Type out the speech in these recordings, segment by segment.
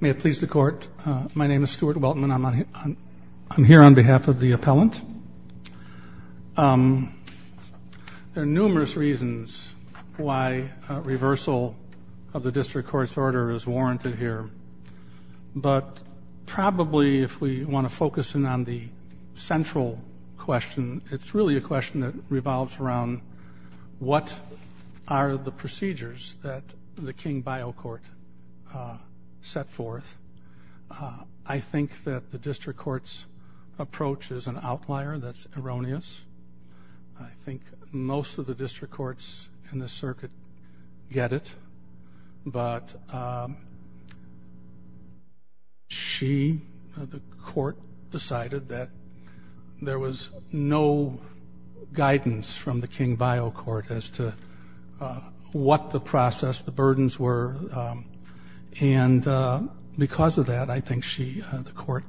May it please the court. My name is Stuart Weltman. I'm here on behalf of the appellant. There are numerous reasons why reversal of the district court's order is warranted here. But probably if we want to focus in on the central question, it's really a question that revolves around what are the procedures that the King Biocourt set forth. I think that the district court's approach is an outlier that's erroneous. I think most of the district courts in the circuit get it. But she, the court, decided that there was no guidance from the King Biocourt as to what the process, the burdens were. And because of that, I think she, the court,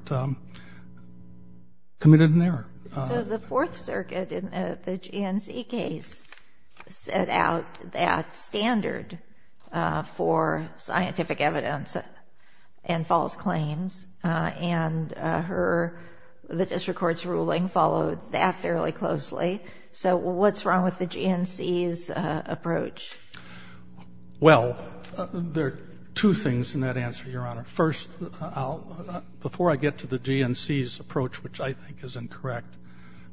committed an error. So the Fourth Circuit in the GNC case set out that standard for scientific evidence and false claims. And her, the district court's ruling followed that fairly closely. So what's wrong with the GNC's approach? Well, there are two things in that answer, Your Honor. First, before I get to the GNC's approach, which I think is incorrect,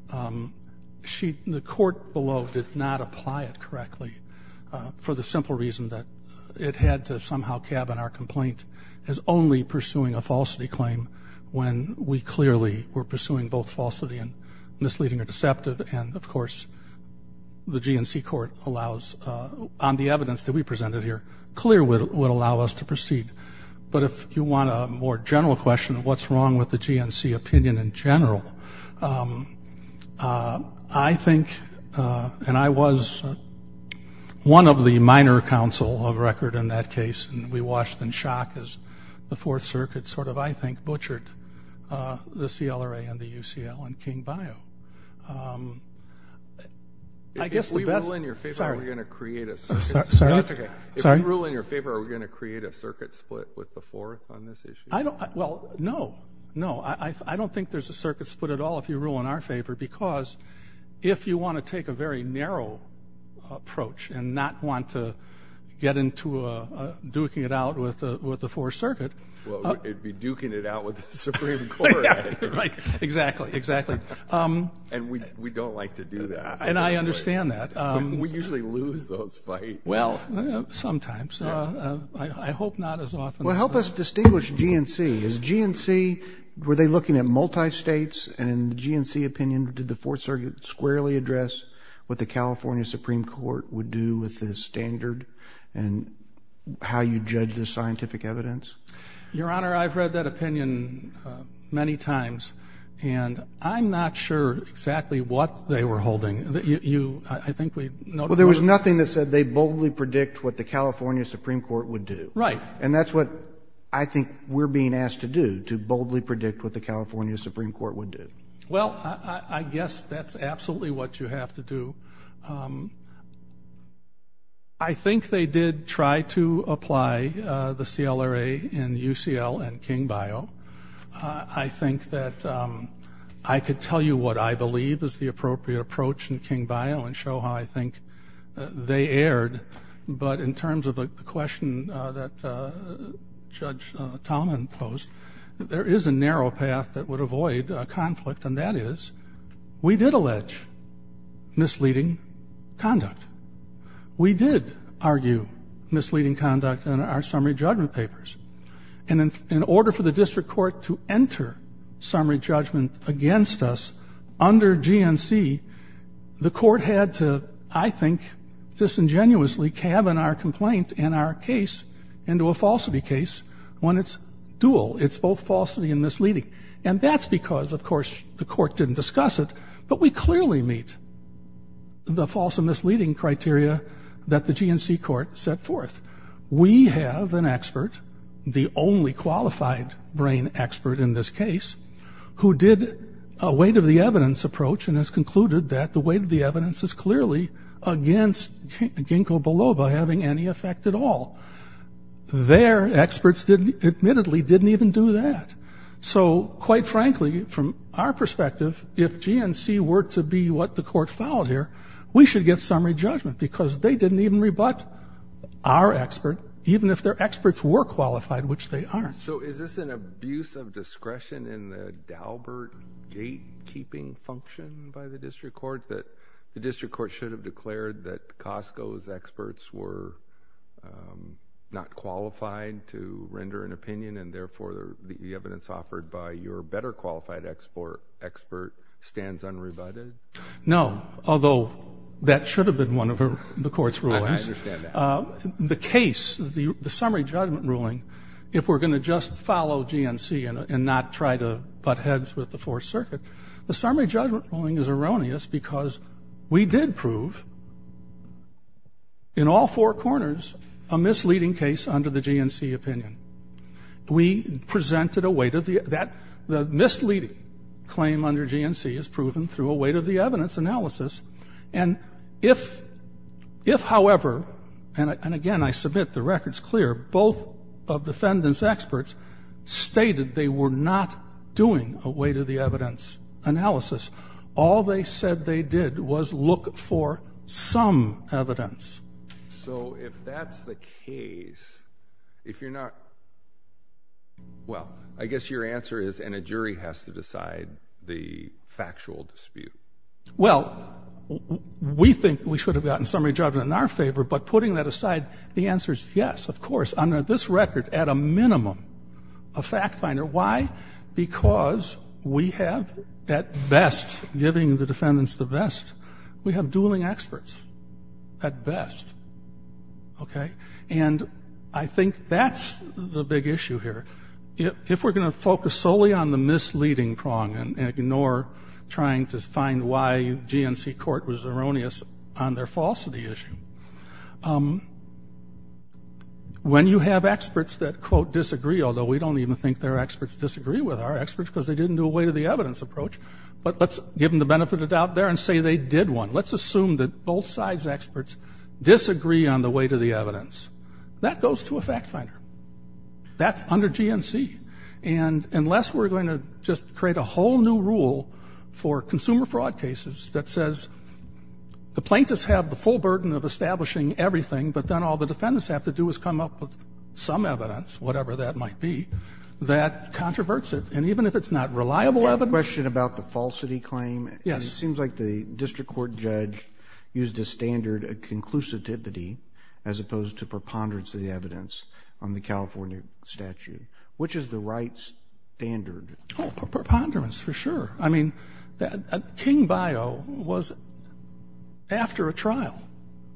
the court below did not apply it correctly for the simple reason that it had to somehow cabin our complaint as only pursuing a falsity claim when we clearly were pursuing both falsity and misleading or deceptive. And, of course, the GNC court allows, on the evidence that we presented here, clear what would allow us to proceed. But if you want a more general question of what's wrong with the GNC opinion in general, I think, and I was one of the minor counsel of record in that case, and we watched in shock as the Fourth Circuit sort of, I think, butchered the CLRA and the UCL and King Bio. I guess the best- If we rule in your favor, are we going to create a circuit? Sorry? That's okay. If we rule in your favor, are we going to create a circuit split with the Fourth on this issue? Well, no. No. I don't think there's a circuit split at all if you rule in our favor, because if you want to take a very narrow approach and not want to get into duking it out with the Fourth Circuit- Well, it'd be duking it out with the Supreme Court. Right. Exactly. Exactly. And we don't like to do that. And I understand that. We usually lose those fights. Well, sometimes. I hope not as often as- Well, help us distinguish GNC. Is GNC, were they looking at multi-states? And in the GNC opinion, did the Fourth Circuit squarely address what the California Supreme Court would do with the standard and how you judge the scientific evidence? Your Honor, I've read that opinion many times, and I'm not sure exactly what they were holding. I think we- Well, there was nothing that said they boldly predict what the California Supreme Court would do. Right. And that's what I think we're being asked to do, to boldly predict what the California Supreme Court would do. Well, I guess that's absolutely what you have to do. I think they did try to apply the CLRA in UCL and King Bio. I think that I could tell you what I believe is the appropriate approach in King Bio and show how I think they erred. But in terms of the question that Judge Tallman posed, there is a narrow path that would avoid conflict, and that is we did allege misleading conduct. We did argue misleading conduct in our summary judgment papers. And in order for the district court to enter summary judgment against us under GNC, the court had to, I think, disingenuously cabin our complaint and our case into a falsity case when it's dual. It's both falsity and misleading. And that's because, of course, the court didn't discuss it, but we clearly meet the false and misleading criteria that the GNC court set forth. We have an expert, the only qualified brain expert in this case, who did a weight-of-the-evidence approach and has concluded that the weight-of-the-evidence is clearly against Ginkgo biloba having any effect at all. Their experts admittedly didn't even do that. So, quite frankly, from our perspective, if GNC were to be what the court fouled here, we should get summary judgment because they didn't even rebut our expert, even if their experts were qualified, which they aren't. So is this an abuse of discretion in the Daubert gatekeeping function by the district court that the district court should have declared that Costco's experts were not qualified to render an opinion and, therefore, the evidence offered by your better qualified expert stands unrebutted? No, although that should have been one of the court's rulings. I understand that. The case, the summary judgment ruling, if we're going to just follow GNC and not try to butt heads with the Fourth Circuit, the summary judgment ruling is erroneous because we did prove in all four corners a misleading case under the GNC opinion. We presented a weight of the – that the misleading claim under GNC is proven through a weight-of-the-evidence analysis. And if, however – and, again, I submit the record's clear – both of the defendant's experts stated they were not doing a weight-of-the-evidence analysis, all they said they did was look for some evidence. So if that's the case, if you're not – well, I guess your answer is, and a jury has to decide the factual dispute. Well, we think we should have gotten summary judgment in our favor, but putting that aside, the answer is yes, of course, under this record, at a minimum, a fact finder. Why? Because we have, at best, giving the defendants the vest, we have dueling experts, at best. Okay? And I think that's the big issue here. If we're going to focus solely on the misleading prong and ignore trying to find why GNC court was erroneous on their falsity issue, when you have experts that, quote, disagree, although we don't even think their experts disagree with our experts because they didn't do a weight-of-the-evidence approach, but let's give them the benefit of the doubt there and say they did one. Let's assume that both sides' experts disagree on the weight-of-the-evidence. That goes to a fact finder. That's under GNC. And unless we're going to just create a whole new rule for consumer fraud cases that says the plaintiffs have the full burden of establishing everything, but then all the defendants have to do is come up with some evidence, whatever that might be, that controverts it. And even if it's not reliable evidence ---- A question about the falsity claim. Yes. It seems like the district court judge used a standard of conclusivity as opposed to preponderance of the evidence on the California statute. Which is the right standard? Oh, preponderance, for sure. I mean, King Bio was after a trial.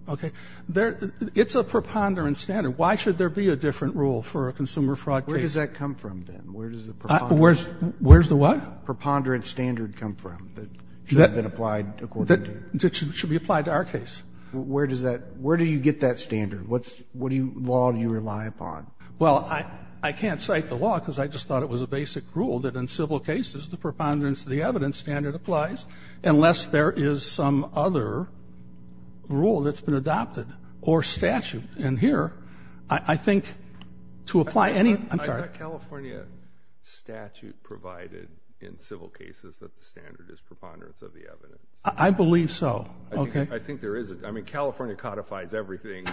Okay? It's a preponderance standard. Why should there be a different rule for a consumer fraud case? Where does that come from, then? Where does the preponderance ---- Where's the what? Preponderance standard come from that should have been applied according to ---- That should be applied to our case. Where does that ---- where do you get that standard? What law do you rely upon? Well, I can't cite the law because I just thought it was a basic rule that in civil cases the preponderance of the evidence standard applies unless there is some other rule that's been adopted or statute. And here, I think to apply any ---- I'm sorry. I thought California statute provided in civil cases that the standard is preponderance of the evidence. I believe so. Okay. I think there is. I mean, California codifies everything,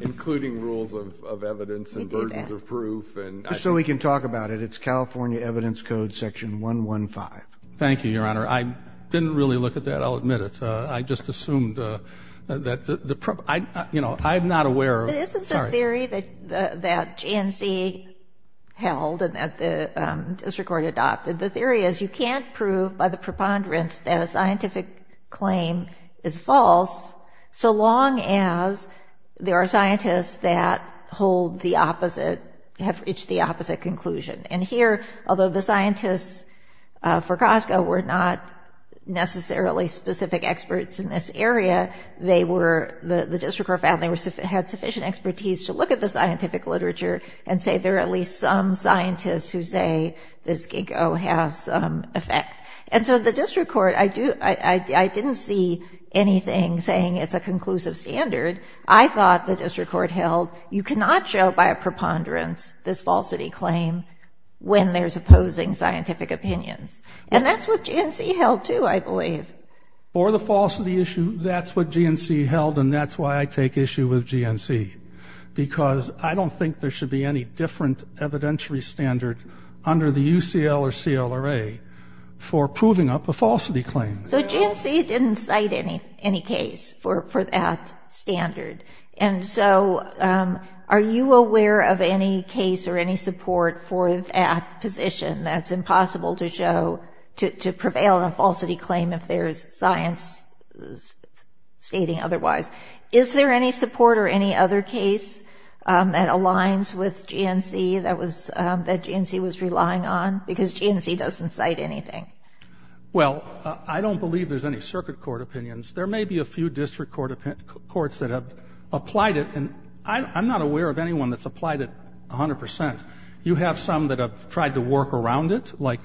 including rules of evidence and burdens of proof. We did that. Just so we can talk about it, it's California Evidence Code Section 115. Thank you, Your Honor. I didn't really look at that. I'll admit it. I just assumed that the ---- you know, I'm not aware of ---- But isn't the theory that GNC held and that the district court adopted, the theory is you can't prove by the preponderance that a scientific claim is false so long as there are scientists that hold the opposite, have reached the opposite conclusion. And here, although the scientists for Costco were not necessarily specific experts in this area, they were ---- the district court found they had sufficient expertise to look at the scientific literature and say there are at least some scientists who say this Ginkgo has some effect. And so the district court, I didn't see anything saying it's a conclusive standard. I thought the district court held you cannot show by a preponderance this falsity claim when there's opposing scientific opinions. And that's what GNC held, too, I believe. For the falsity issue, that's what GNC held, and that's why I take issue with GNC, because I don't think there should be any different evidentiary standard under the UCL or CLRA for proving up a falsity claim. So GNC didn't cite any case for that standard. And so are you aware of any case or any support for that position that's impossible to show to prevail on a falsity claim if there's science stating otherwise? Is there any support or any other case that aligns with GNC that GNC was relying on? Because GNC doesn't cite anything. Well, I don't believe there's any circuit court opinions. There may be a few district courts that have applied it. And I'm not aware of anyone that's applied it 100 percent. You have some that have tried to work around it, like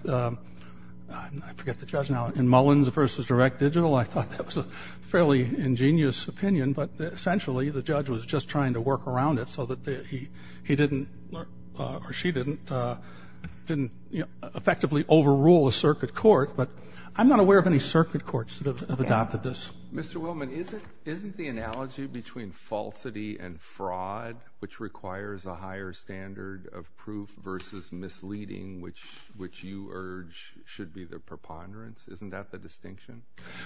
I forget the judge now, in Mullins v. Direct Digital. I thought that was a fairly ingenious opinion, but essentially the judge was just trying to work around it so that he didn't or she didn't effectively overrule a circuit court. But I'm not aware of any circuit courts that have adopted this. Mr. Willman, isn't the analogy between falsity and fraud, which requires a higher standard of proof versus misleading, which you urge should be the preponderance, isn't that the distinction?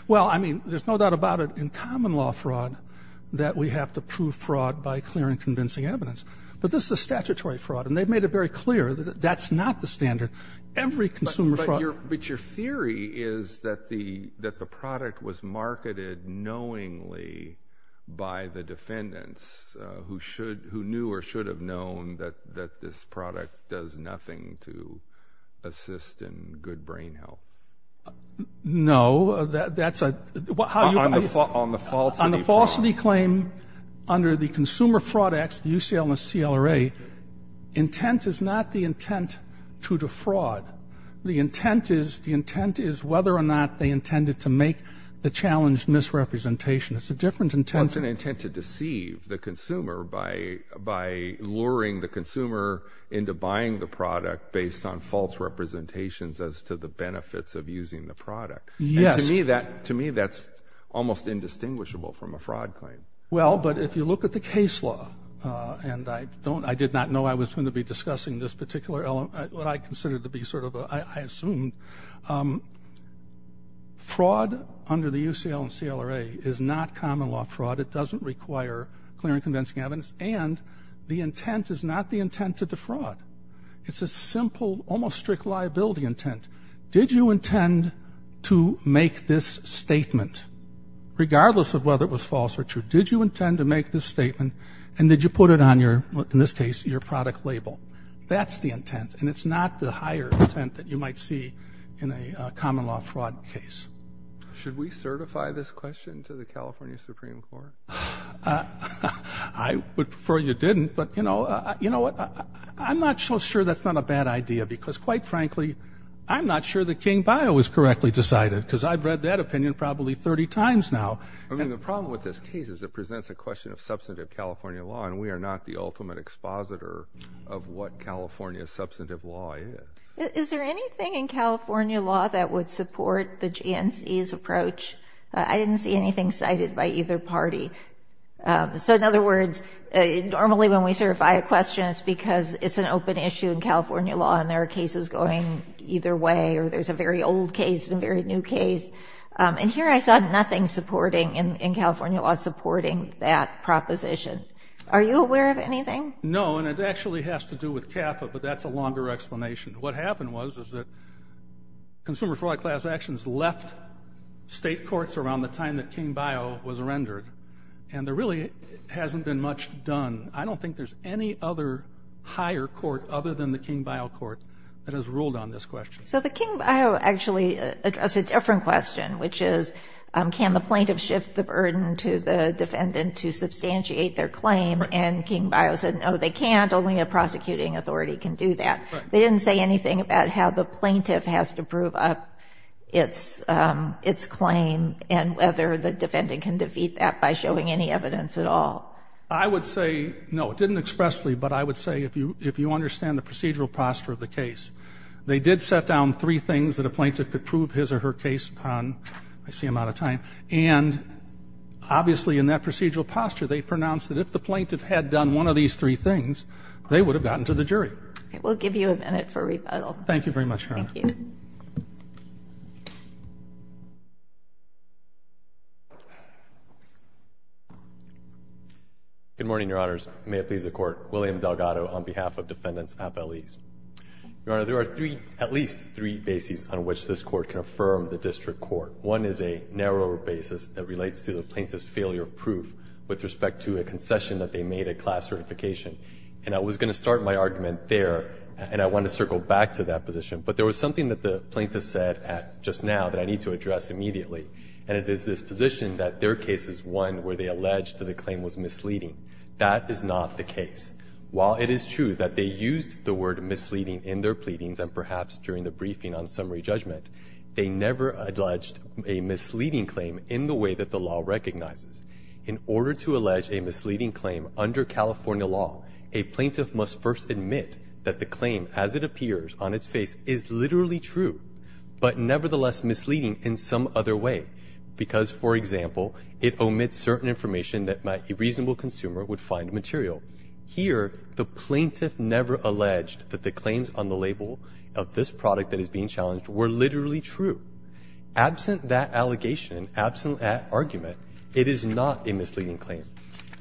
Well, I mean, there's no doubt about it in common law fraud that we have to prove fraud by clear and convincing evidence. But this is a statutory fraud, and they've made it very clear that that's not the standard. Every consumer fraud— But your theory is that the product was marketed knowingly by the defendants who knew or should have known that this product does nothing to assist in good brain health. No. That's a— On the falsity part. On the falsity claim, under the Consumer Fraud Act, the UCL and the CLRA, intent is not the intent to defraud. The intent is whether or not they intended to make the challenged misrepresentation. It's a different intent— Well, it's an intent to deceive the consumer by luring the consumer into buying the product based on false representations as to the benefits of using the product. And to me, that's almost indistinguishable from a fraud claim. Well, but if you look at the case law— and I did not know I was going to be discussing this particular element, what I considered to be sort of a—I assumed. Fraud under the UCL and CLRA is not common law fraud. It doesn't require clear and convincing evidence. And the intent is not the intent to defraud. It's a simple, almost strict liability intent. Did you intend to make this statement? Regardless of whether it was false or true, did you intend to make this statement? And did you put it on your—in this case, your product label? That's the intent. And it's not the higher intent that you might see in a common law fraud case. Should we certify this question to the California Supreme Court? I would prefer you didn't. But, you know, I'm not so sure that's not a bad idea because, quite frankly, I'm not sure that King Bio was correctly decided because I've read that opinion probably 30 times now. I mean, the problem with this case is it presents a question of substantive California law, and we are not the ultimate expositor of what California substantive law is. Is there anything in California law that would support the GNC's approach? I didn't see anything cited by either party. So, in other words, normally when we certify a question, it's because it's an open issue in California law and there are cases going either way, or there's a very old case and a very new case. And here I saw nothing in California law supporting that proposition. Are you aware of anything? No, and it actually has to do with CAFA, but that's a longer explanation. What happened was is that Consumer Fraud Class Actions left state courts around the time that King Bio was rendered, and there really hasn't been much done. I don't think there's any other higher court other than the King Bio Court that has ruled on this question. So the King Bio actually addressed a different question, which is can the plaintiff shift the burden to the defendant to substantiate their claim, and King Bio said, no, they can't. Only a prosecuting authority can do that. They didn't say anything about how the plaintiff has to prove up its claim and whether the defendant can defeat that by showing any evidence at all. I would say, no, it didn't expressly, but I would say if you understand the procedural posture of the case, they did set down three things that a plaintiff could prove his or her case upon. I see I'm out of time. And obviously in that procedural posture, they pronounced that if the plaintiff had done one of these three things, they would have gotten to the jury. I will give you a minute for rebuttal. Thank you very much, Your Honor. Thank you. Good morning, Your Honors. May it please the Court. William Delgado on behalf of Defendants at Belize. Your Honor, there are at least three bases on which this Court can affirm the District Court. One is a narrower basis that relates to the plaintiff's failure of proof with respect to a concession that they made at class certification. And I was going to start my argument there, and I want to circle back to that position. But there was something that the plaintiff said just now that I need to address immediately, and it is this position that their case is one where they allege that the claim was misleading. That is not the case. While it is true that they used the word misleading in their pleadings and perhaps during the briefing on summary judgment, they never alleged a misleading claim in the way that the law recognizes. In order to allege a misleading claim under California law, a plaintiff must first admit that the claim as it appears on its face is literally true, but nevertheless misleading in some other way, because, for example, it omits certain information that a reasonable consumer would find material. Here, the plaintiff never alleged that the claims on the label of this product that is being challenged were literally true. Absent that allegation, absent that argument, it is not a misleading claim.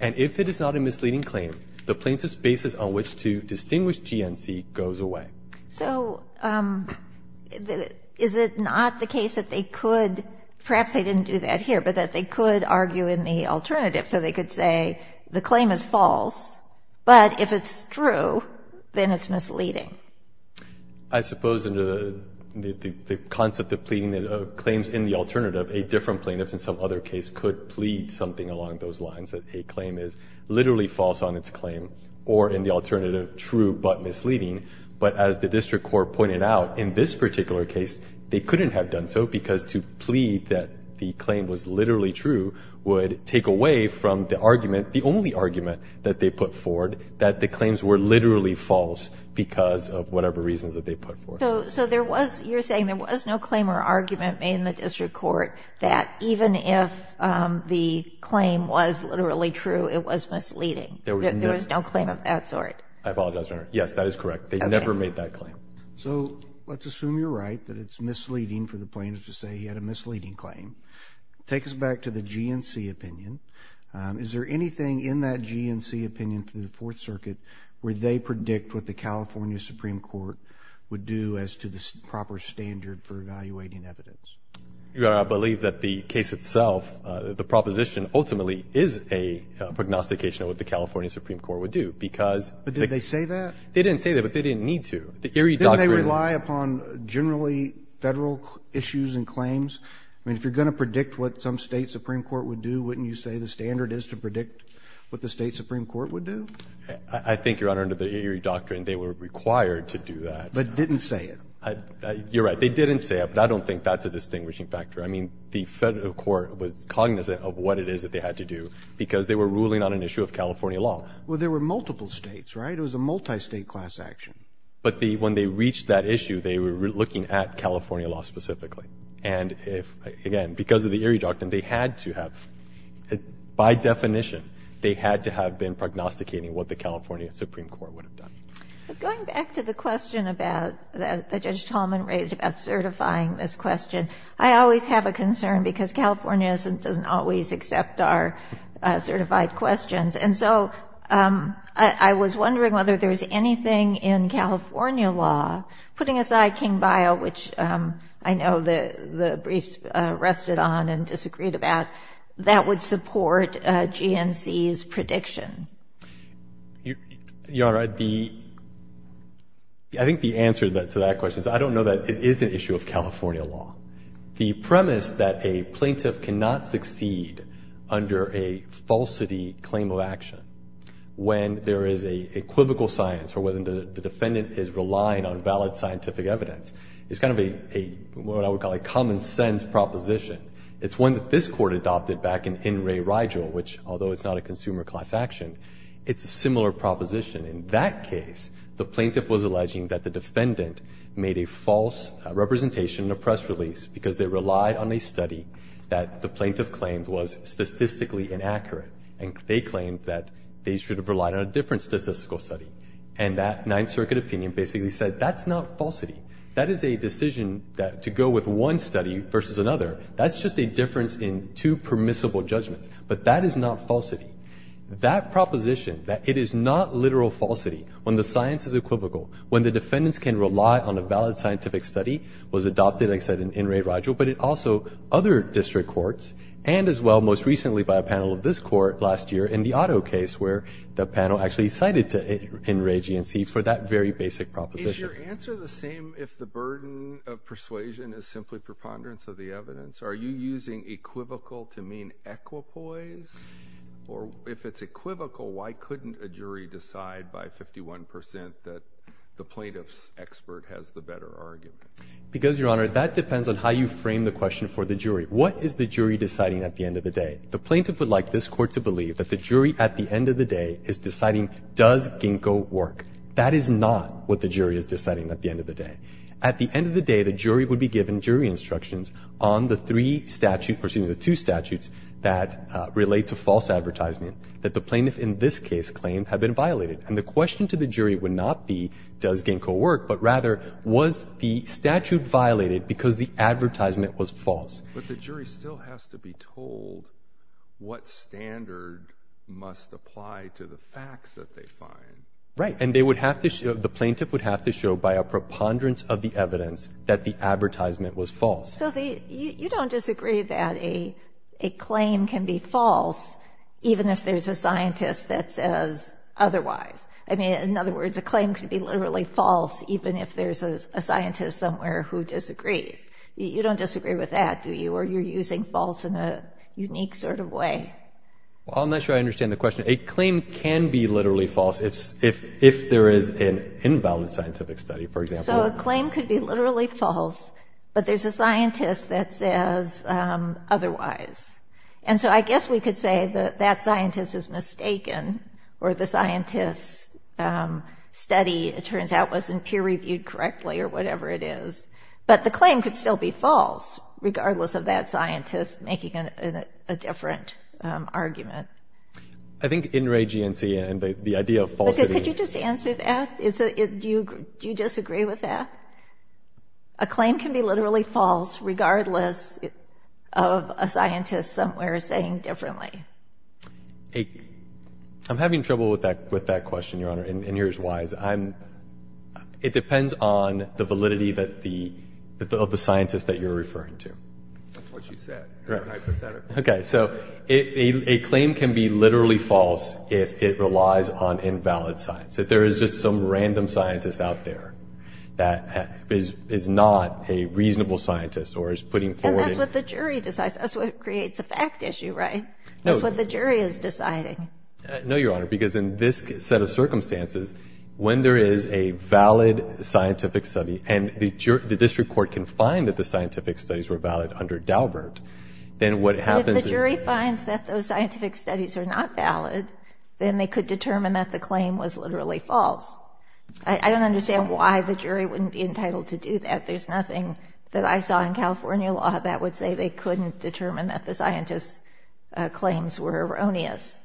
And if it is not a misleading claim, the plaintiff's basis on which to distinguish GNC goes away. So is it not the case that they could, perhaps they didn't do that here, but that they could argue in the alternative? So they could say the claim is false, but if it's true, then it's misleading. I suppose under the concept of pleading claims in the alternative, a different plaintiff in some other case could plead something along those lines, that a claim is literally false on its claim or in the alternative, true but misleading. But as the district court pointed out in this particular case, they couldn't have done so because to plead that the claim was literally true would take away from the argument, the only argument that they put forward, that the claims were literally false because of whatever reasons that they put forth. So there was, you're saying there was no claim or argument made in the district court that even if the claim was literally true, it was misleading? There was no claim of that sort? I apologize, Your Honor. Yes, that is correct. They never made that claim. So let's assume you're right, that it's misleading for the plaintiff to say he had a misleading claim. Take us back to the GNC opinion. Is there anything in that GNC opinion for the Fourth Circuit where they predict what the California Supreme Court would do as to the proper standard for evaluating evidence? Your Honor, I believe that the case itself, the proposition ultimately is a prognostication of what the California Supreme Court would do. But did they say that? They didn't say that, but they didn't need to. Didn't they rely upon generally Federal issues and claims? I mean, if you're going to predict what some state Supreme Court would do, wouldn't you say the standard is to predict what the state Supreme Court would do? I think, Your Honor, under the Erie Doctrine, they were required to do that. But didn't say it. You're right. They didn't say it, but I don't think that's a distinguishing factor. I mean, the Federal Court was cognizant of what it is that they had to do because they were ruling on an issue of California law. Well, there were multiple states, right? It was a multi-state class action. But when they reached that issue, they were looking at California law specifically. And, again, because of the Erie Doctrine, they had to have, by definition, they had to have been prognosticating what the California Supreme Court would have done. But going back to the question that Judge Tallman raised about certifying this question, I always have a concern because California doesn't always accept our certified questions. And so I was wondering whether there's anything in California law, putting aside King-Bio, which I know the briefs rested on and disagreed about, that would support GNC's prediction. Your Honor, I think the answer to that question is I don't know that it is an issue of California law. The premise that a plaintiff cannot succeed under a falsity claim of action when there is an equivocal science or when the defendant is relying on valid scientific evidence is kind of what I would call a common-sense proposition. It's one that this Court adopted back in Ray Rigel, which, although it's not a consumer class action, it's a similar proposition. In that case, the plaintiff was alleging that the defendant made a false representation in a press release because they relied on a study that the plaintiff claimed was statistically inaccurate. And they claimed that they should have relied on a different statistical study. And that Ninth Circuit opinion basically said that's not falsity. That is a decision to go with one study versus another. That's just a difference in two permissible judgments. But that is not falsity. That proposition, that it is not literal falsity when the science is equivocal, when the defendants can rely on a valid scientific study, was adopted, like I said, in Ray Rigel. But it also other district courts and as well most recently by a panel of this court last year in the Otto case where the panel actually cited it in Ray GNC for that very basic proposition. Is your answer the same if the burden of persuasion is simply preponderance of the evidence? Are you using equivocal to mean equipoise? Or if it's equivocal, why couldn't a jury decide by 51% that the plaintiff's expert has the better argument? Because, Your Honor, that depends on how you frame the question for the jury. What is the jury deciding at the end of the day? The plaintiff would like this Court to believe that the jury at the end of the day is deciding does Ginkgo work. That is not what the jury is deciding at the end of the day. At the end of the day, the jury would be given jury instructions on the three statutes or excuse me, the two statutes that relate to false advertisement that the plaintiff in this case claimed had been violated. And the question to the jury would not be does Ginkgo work, but rather was the statute violated because the advertisement was false? But the jury still has to be told what standard must apply to the facts that they find. Right, and the plaintiff would have to show by a preponderance of the evidence that the advertisement was false. So you don't disagree that a claim can be false even if there's a scientist that says otherwise. I mean, in other words, a claim can be literally false even if there's a scientist somewhere who disagrees. You don't disagree with that, do you? Or you're using false in a unique sort of way. Well, I'm not sure I understand the question. A claim can be literally false if there is an invalid scientific study, for example. So a claim could be literally false, but there's a scientist that says otherwise. And so I guess we could say that that scientist is mistaken or the scientist's study, it turns out, wasn't peer-reviewed correctly or whatever it is. But the claim could still be false regardless of that scientist making a different argument. I think in re-GNC and the idea of falsity... Could you just answer that? Do you disagree with that? A claim can be literally false regardless of a scientist somewhere saying differently. I'm having trouble with that question, Your Honor, and here's why. It depends on the validity of the scientist that you're referring to. That's what you said. Okay, so a claim can be literally false if it relies on invalid science. If there is just some random scientist out there that is not a reasonable scientist or is putting forward... And that's what the jury decides. That's what creates a fact issue, right? That's what the jury is deciding. No, Your Honor, because in this set of circumstances, when there is a valid scientific study and the district court can find that the scientific studies were valid under Daubert, then what happens is... I don't understand why the jury wouldn't be entitled to do that. There's nothing that I saw in California law that would say they couldn't determine that the scientist's claims were erroneous.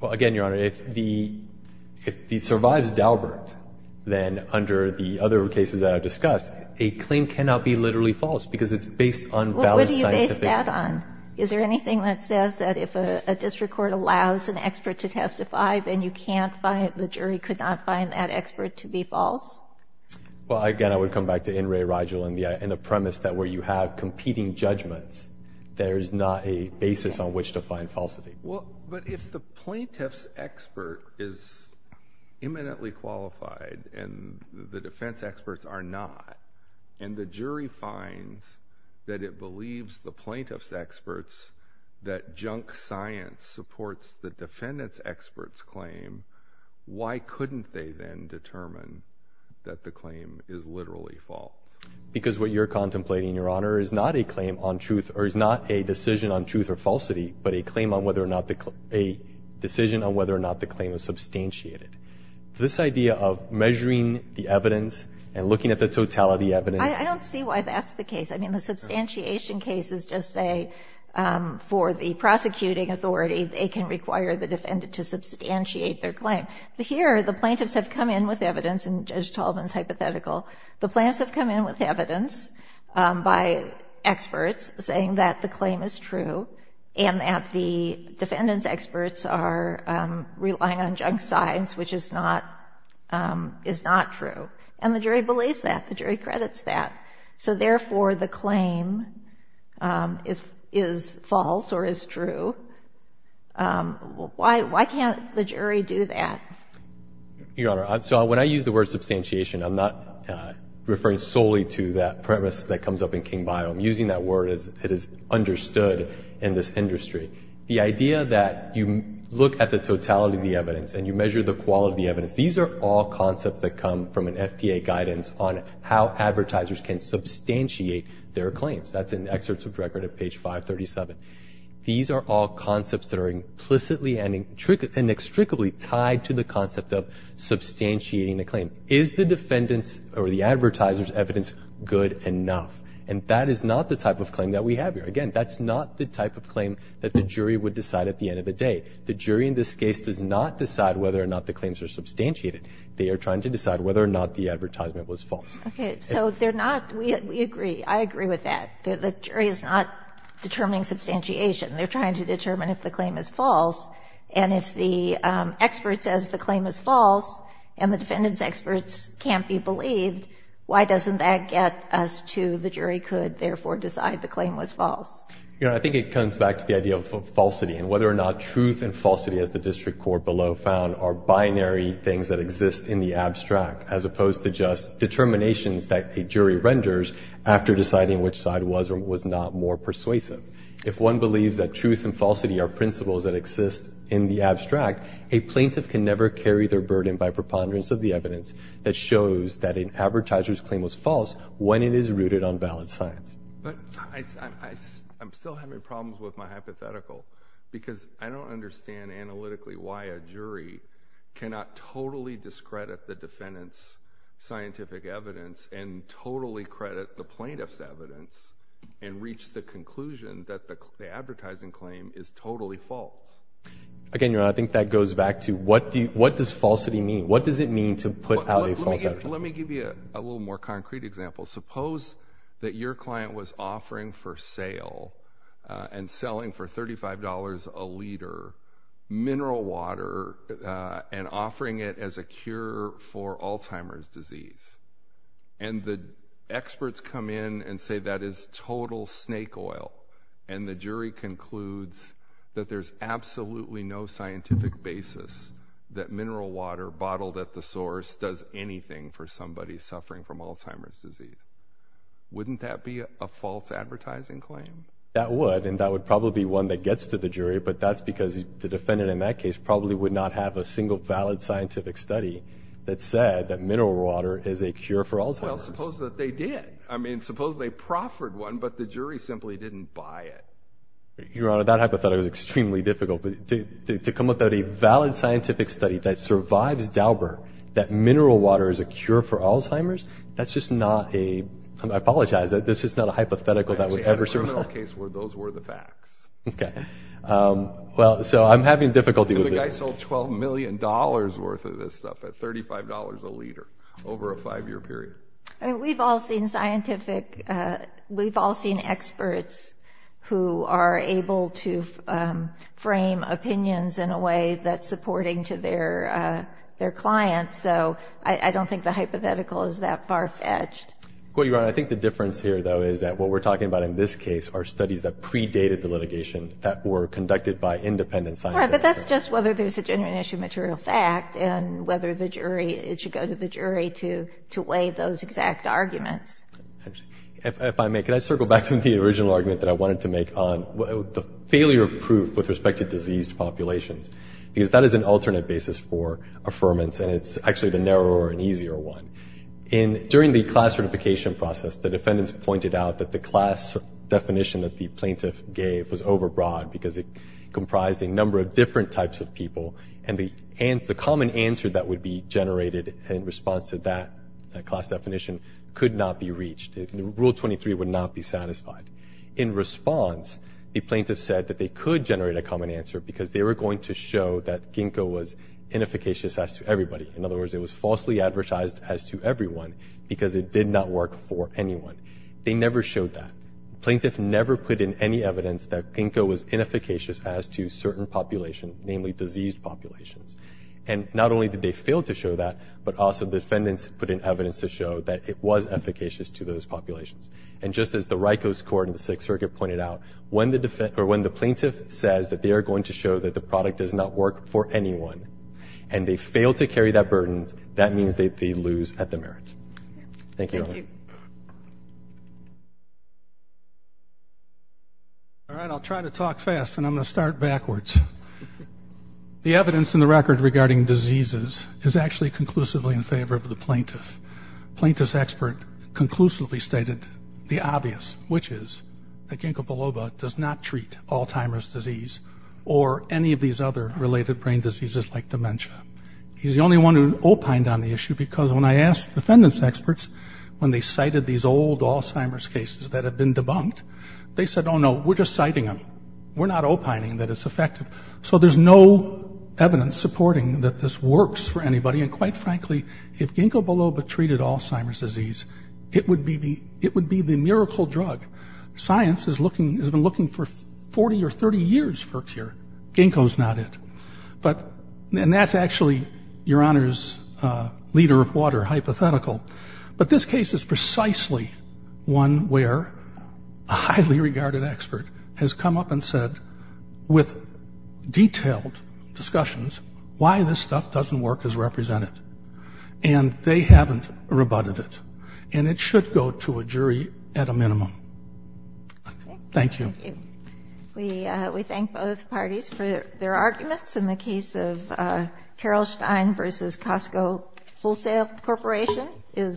Well, again, Your Honor, if it survives Daubert, then under the other cases that I've discussed, a claim cannot be literally false because it's based on valid scientific... Well, what do you base that on? Is there anything that says that if a district court allows an expert to testify, then you can't find... the jury could not find that expert to be false? Well, again, I would come back to N. Ray Rigel and the premise that where you have competing judgments, there is not a basis on which to find falsity. Well, but if the plaintiff's expert is eminently qualified and the defense experts are not, and the jury finds that it believes the plaintiff's experts that junk science supports the defendant's expert's claim, why couldn't they then determine that the claim is literally false? Because what you're contemplating, Your Honor, is not a decision on truth or falsity, but a decision on whether or not the claim is substantiated. This idea of measuring the evidence and looking at the totality evidence... I don't see why that's the case. I mean, the substantiation cases just say for the prosecuting authority, they can require the defendant to substantiate their claim. Here, the plaintiffs have come in with evidence, and Judge Tallman's hypothetical. The plaintiffs have come in with evidence by experts saying that the claim is true and that the defendant's experts are relying on junk science, which is not true. And the jury believes that. The jury credits that. So therefore, the claim is false or is true. Why can't the jury do that? Your Honor, so when I use the word substantiation, I'm not referring solely to that premise that comes up in King-Bio. I'm using that word as it is understood in this industry. The idea that you look at the totality of the evidence and you measure the quality of the evidence, these are all concepts that come from an FDA guidance on how advertisers can substantiate their claims. That's in the excerpts of record at page 537. These are all concepts that are implicitly and inextricably tied to the concept of substantiating a claim. Is the defendant's or the advertiser's evidence good enough? And that is not the type of claim that we have here. Again, that's not the type of claim that the jury would decide at the end of the day. The jury in this case does not decide whether or not the claims are substantiated. They are trying to decide whether or not the advertisement was false. Okay, so they're not, we agree, I agree with that. The jury is not determining substantiation. They're trying to determine if the claim is false. And if the expert says the claim is false and the defendant's experts can't be believed, why doesn't that get us to the jury could therefore decide the claim was false? I think it comes back to the idea of falsity and whether or not truth and falsity, as the district court below found, are binary things that exist in the abstract, as opposed to just determinations that a jury renders after deciding which side was or was not more persuasive. If one believes that truth and falsity are principles that exist in the abstract, a plaintiff can never carry their burden by preponderance of the evidence that shows that an advertiser's claim was false when it is rooted on valid science. But I'm still having problems with my hypothetical, because I don't understand analytically why a jury cannot totally discredit the defendant's scientific evidence and totally credit the plaintiff's evidence and reach the conclusion that the advertising claim is totally false. Again, Your Honor, I think that goes back to what does falsity mean? What does it mean to put out a false advertisement? Let me give you a little more concrete example. Suppose that your client was offering for sale and selling for $35 a liter mineral water and offering it as a cure for Alzheimer's disease. And the experts come in and say that is total snake oil. And the jury concludes that there's absolutely no scientific basis that mineral water bottled at the source does anything for somebody suffering from Alzheimer's disease. Wouldn't that be a false advertising claim? That would, and that would probably be one that gets to the jury, but that's because the defendant in that case probably would not have a single valid scientific study that said that mineral water is a cure for Alzheimer's. Well, suppose that they did. I mean, suppose they proffered one, but the jury simply didn't buy it. Your Honor, that hypothetical is extremely difficult. To come up with a valid scientific study that survives Daubert, that mineral water is a cure for Alzheimer's, that's just not a, I apologize, that's just not a hypothetical that would ever survive. Actually, in a criminal case, those were the facts. Okay. Well, so I'm having difficulty with it. The guy sold $12 million worth of this stuff at $35 a liter over a five-year period. I mean, we've all seen scientific, we've all seen experts who are able to frame opinions in a way that's supporting to their clients, so I don't think the hypothetical is that far-fetched. Well, Your Honor, I think the difference here, though, is that what we're talking about in this case are studies that predated the litigation that were conducted by independent scientists. All right, but that's just whether there's a genuine issue of material fact and whether the jury, it should go to the jury to weigh those exact arguments. If I may, can I circle back to the original argument that I wanted to make on the failure of proof with respect to diseased populations? Because that is an alternate basis for affirmance, and it's actually the narrower and easier one. During the class certification process, the defendants pointed out that the class definition that the plaintiff gave was overbroad because it comprised a number of different types of people and the common answer that would be generated in response to that class definition could not be reached. Rule 23 would not be satisfied. In response, the plaintiff said that they could generate a common answer because they were going to show that Ginkgo was inefficacious as to everybody. In other words, it was falsely advertised as to everyone because it did not work for anyone. They never showed that. The plaintiff never put in any evidence that Ginkgo was inefficacious as to certain populations, namely diseased populations. And not only did they fail to show that, but also defendants put in evidence to show that it was efficacious to those populations. And just as the RICO score in the Sixth Circuit pointed out, when the plaintiff says that they are going to show that the product does not work for anyone and they fail to carry that burden, that means that they lose at the merit. Thank you. Thank you. Thank you. All right, I'll try to talk fast, and I'm going to start backwards. The evidence in the record regarding diseases is actually conclusively in favor of the plaintiff. The plaintiff's expert conclusively stated the obvious, which is that Ginkgo biloba does not treat Alzheimer's disease or any of these other related brain diseases like dementia. He's the only one who opined on the issue, because when I asked defendants' experts, when they cited these old Alzheimer's cases that had been debunked, they said, oh, no, we're just citing them. We're not opining that it's effective. So there's no evidence supporting that this works for anybody. And quite frankly, if Ginkgo biloba treated Alzheimer's disease, it would be the miracle drug. Science has been looking for 40 or 30 years for a cure. Ginkgo's not it. And that's actually Your Honor's leader of water hypothetical. But this case is precisely one where a highly regarded expert has come up and said, with detailed discussions, why this stuff doesn't work as represented. And they haven't rebutted it. And it should go to a jury at a minimum. Thank you. Thank you. We thank both parties for their arguments. And the case of Carolstein v. Costco Wholesale Corporation is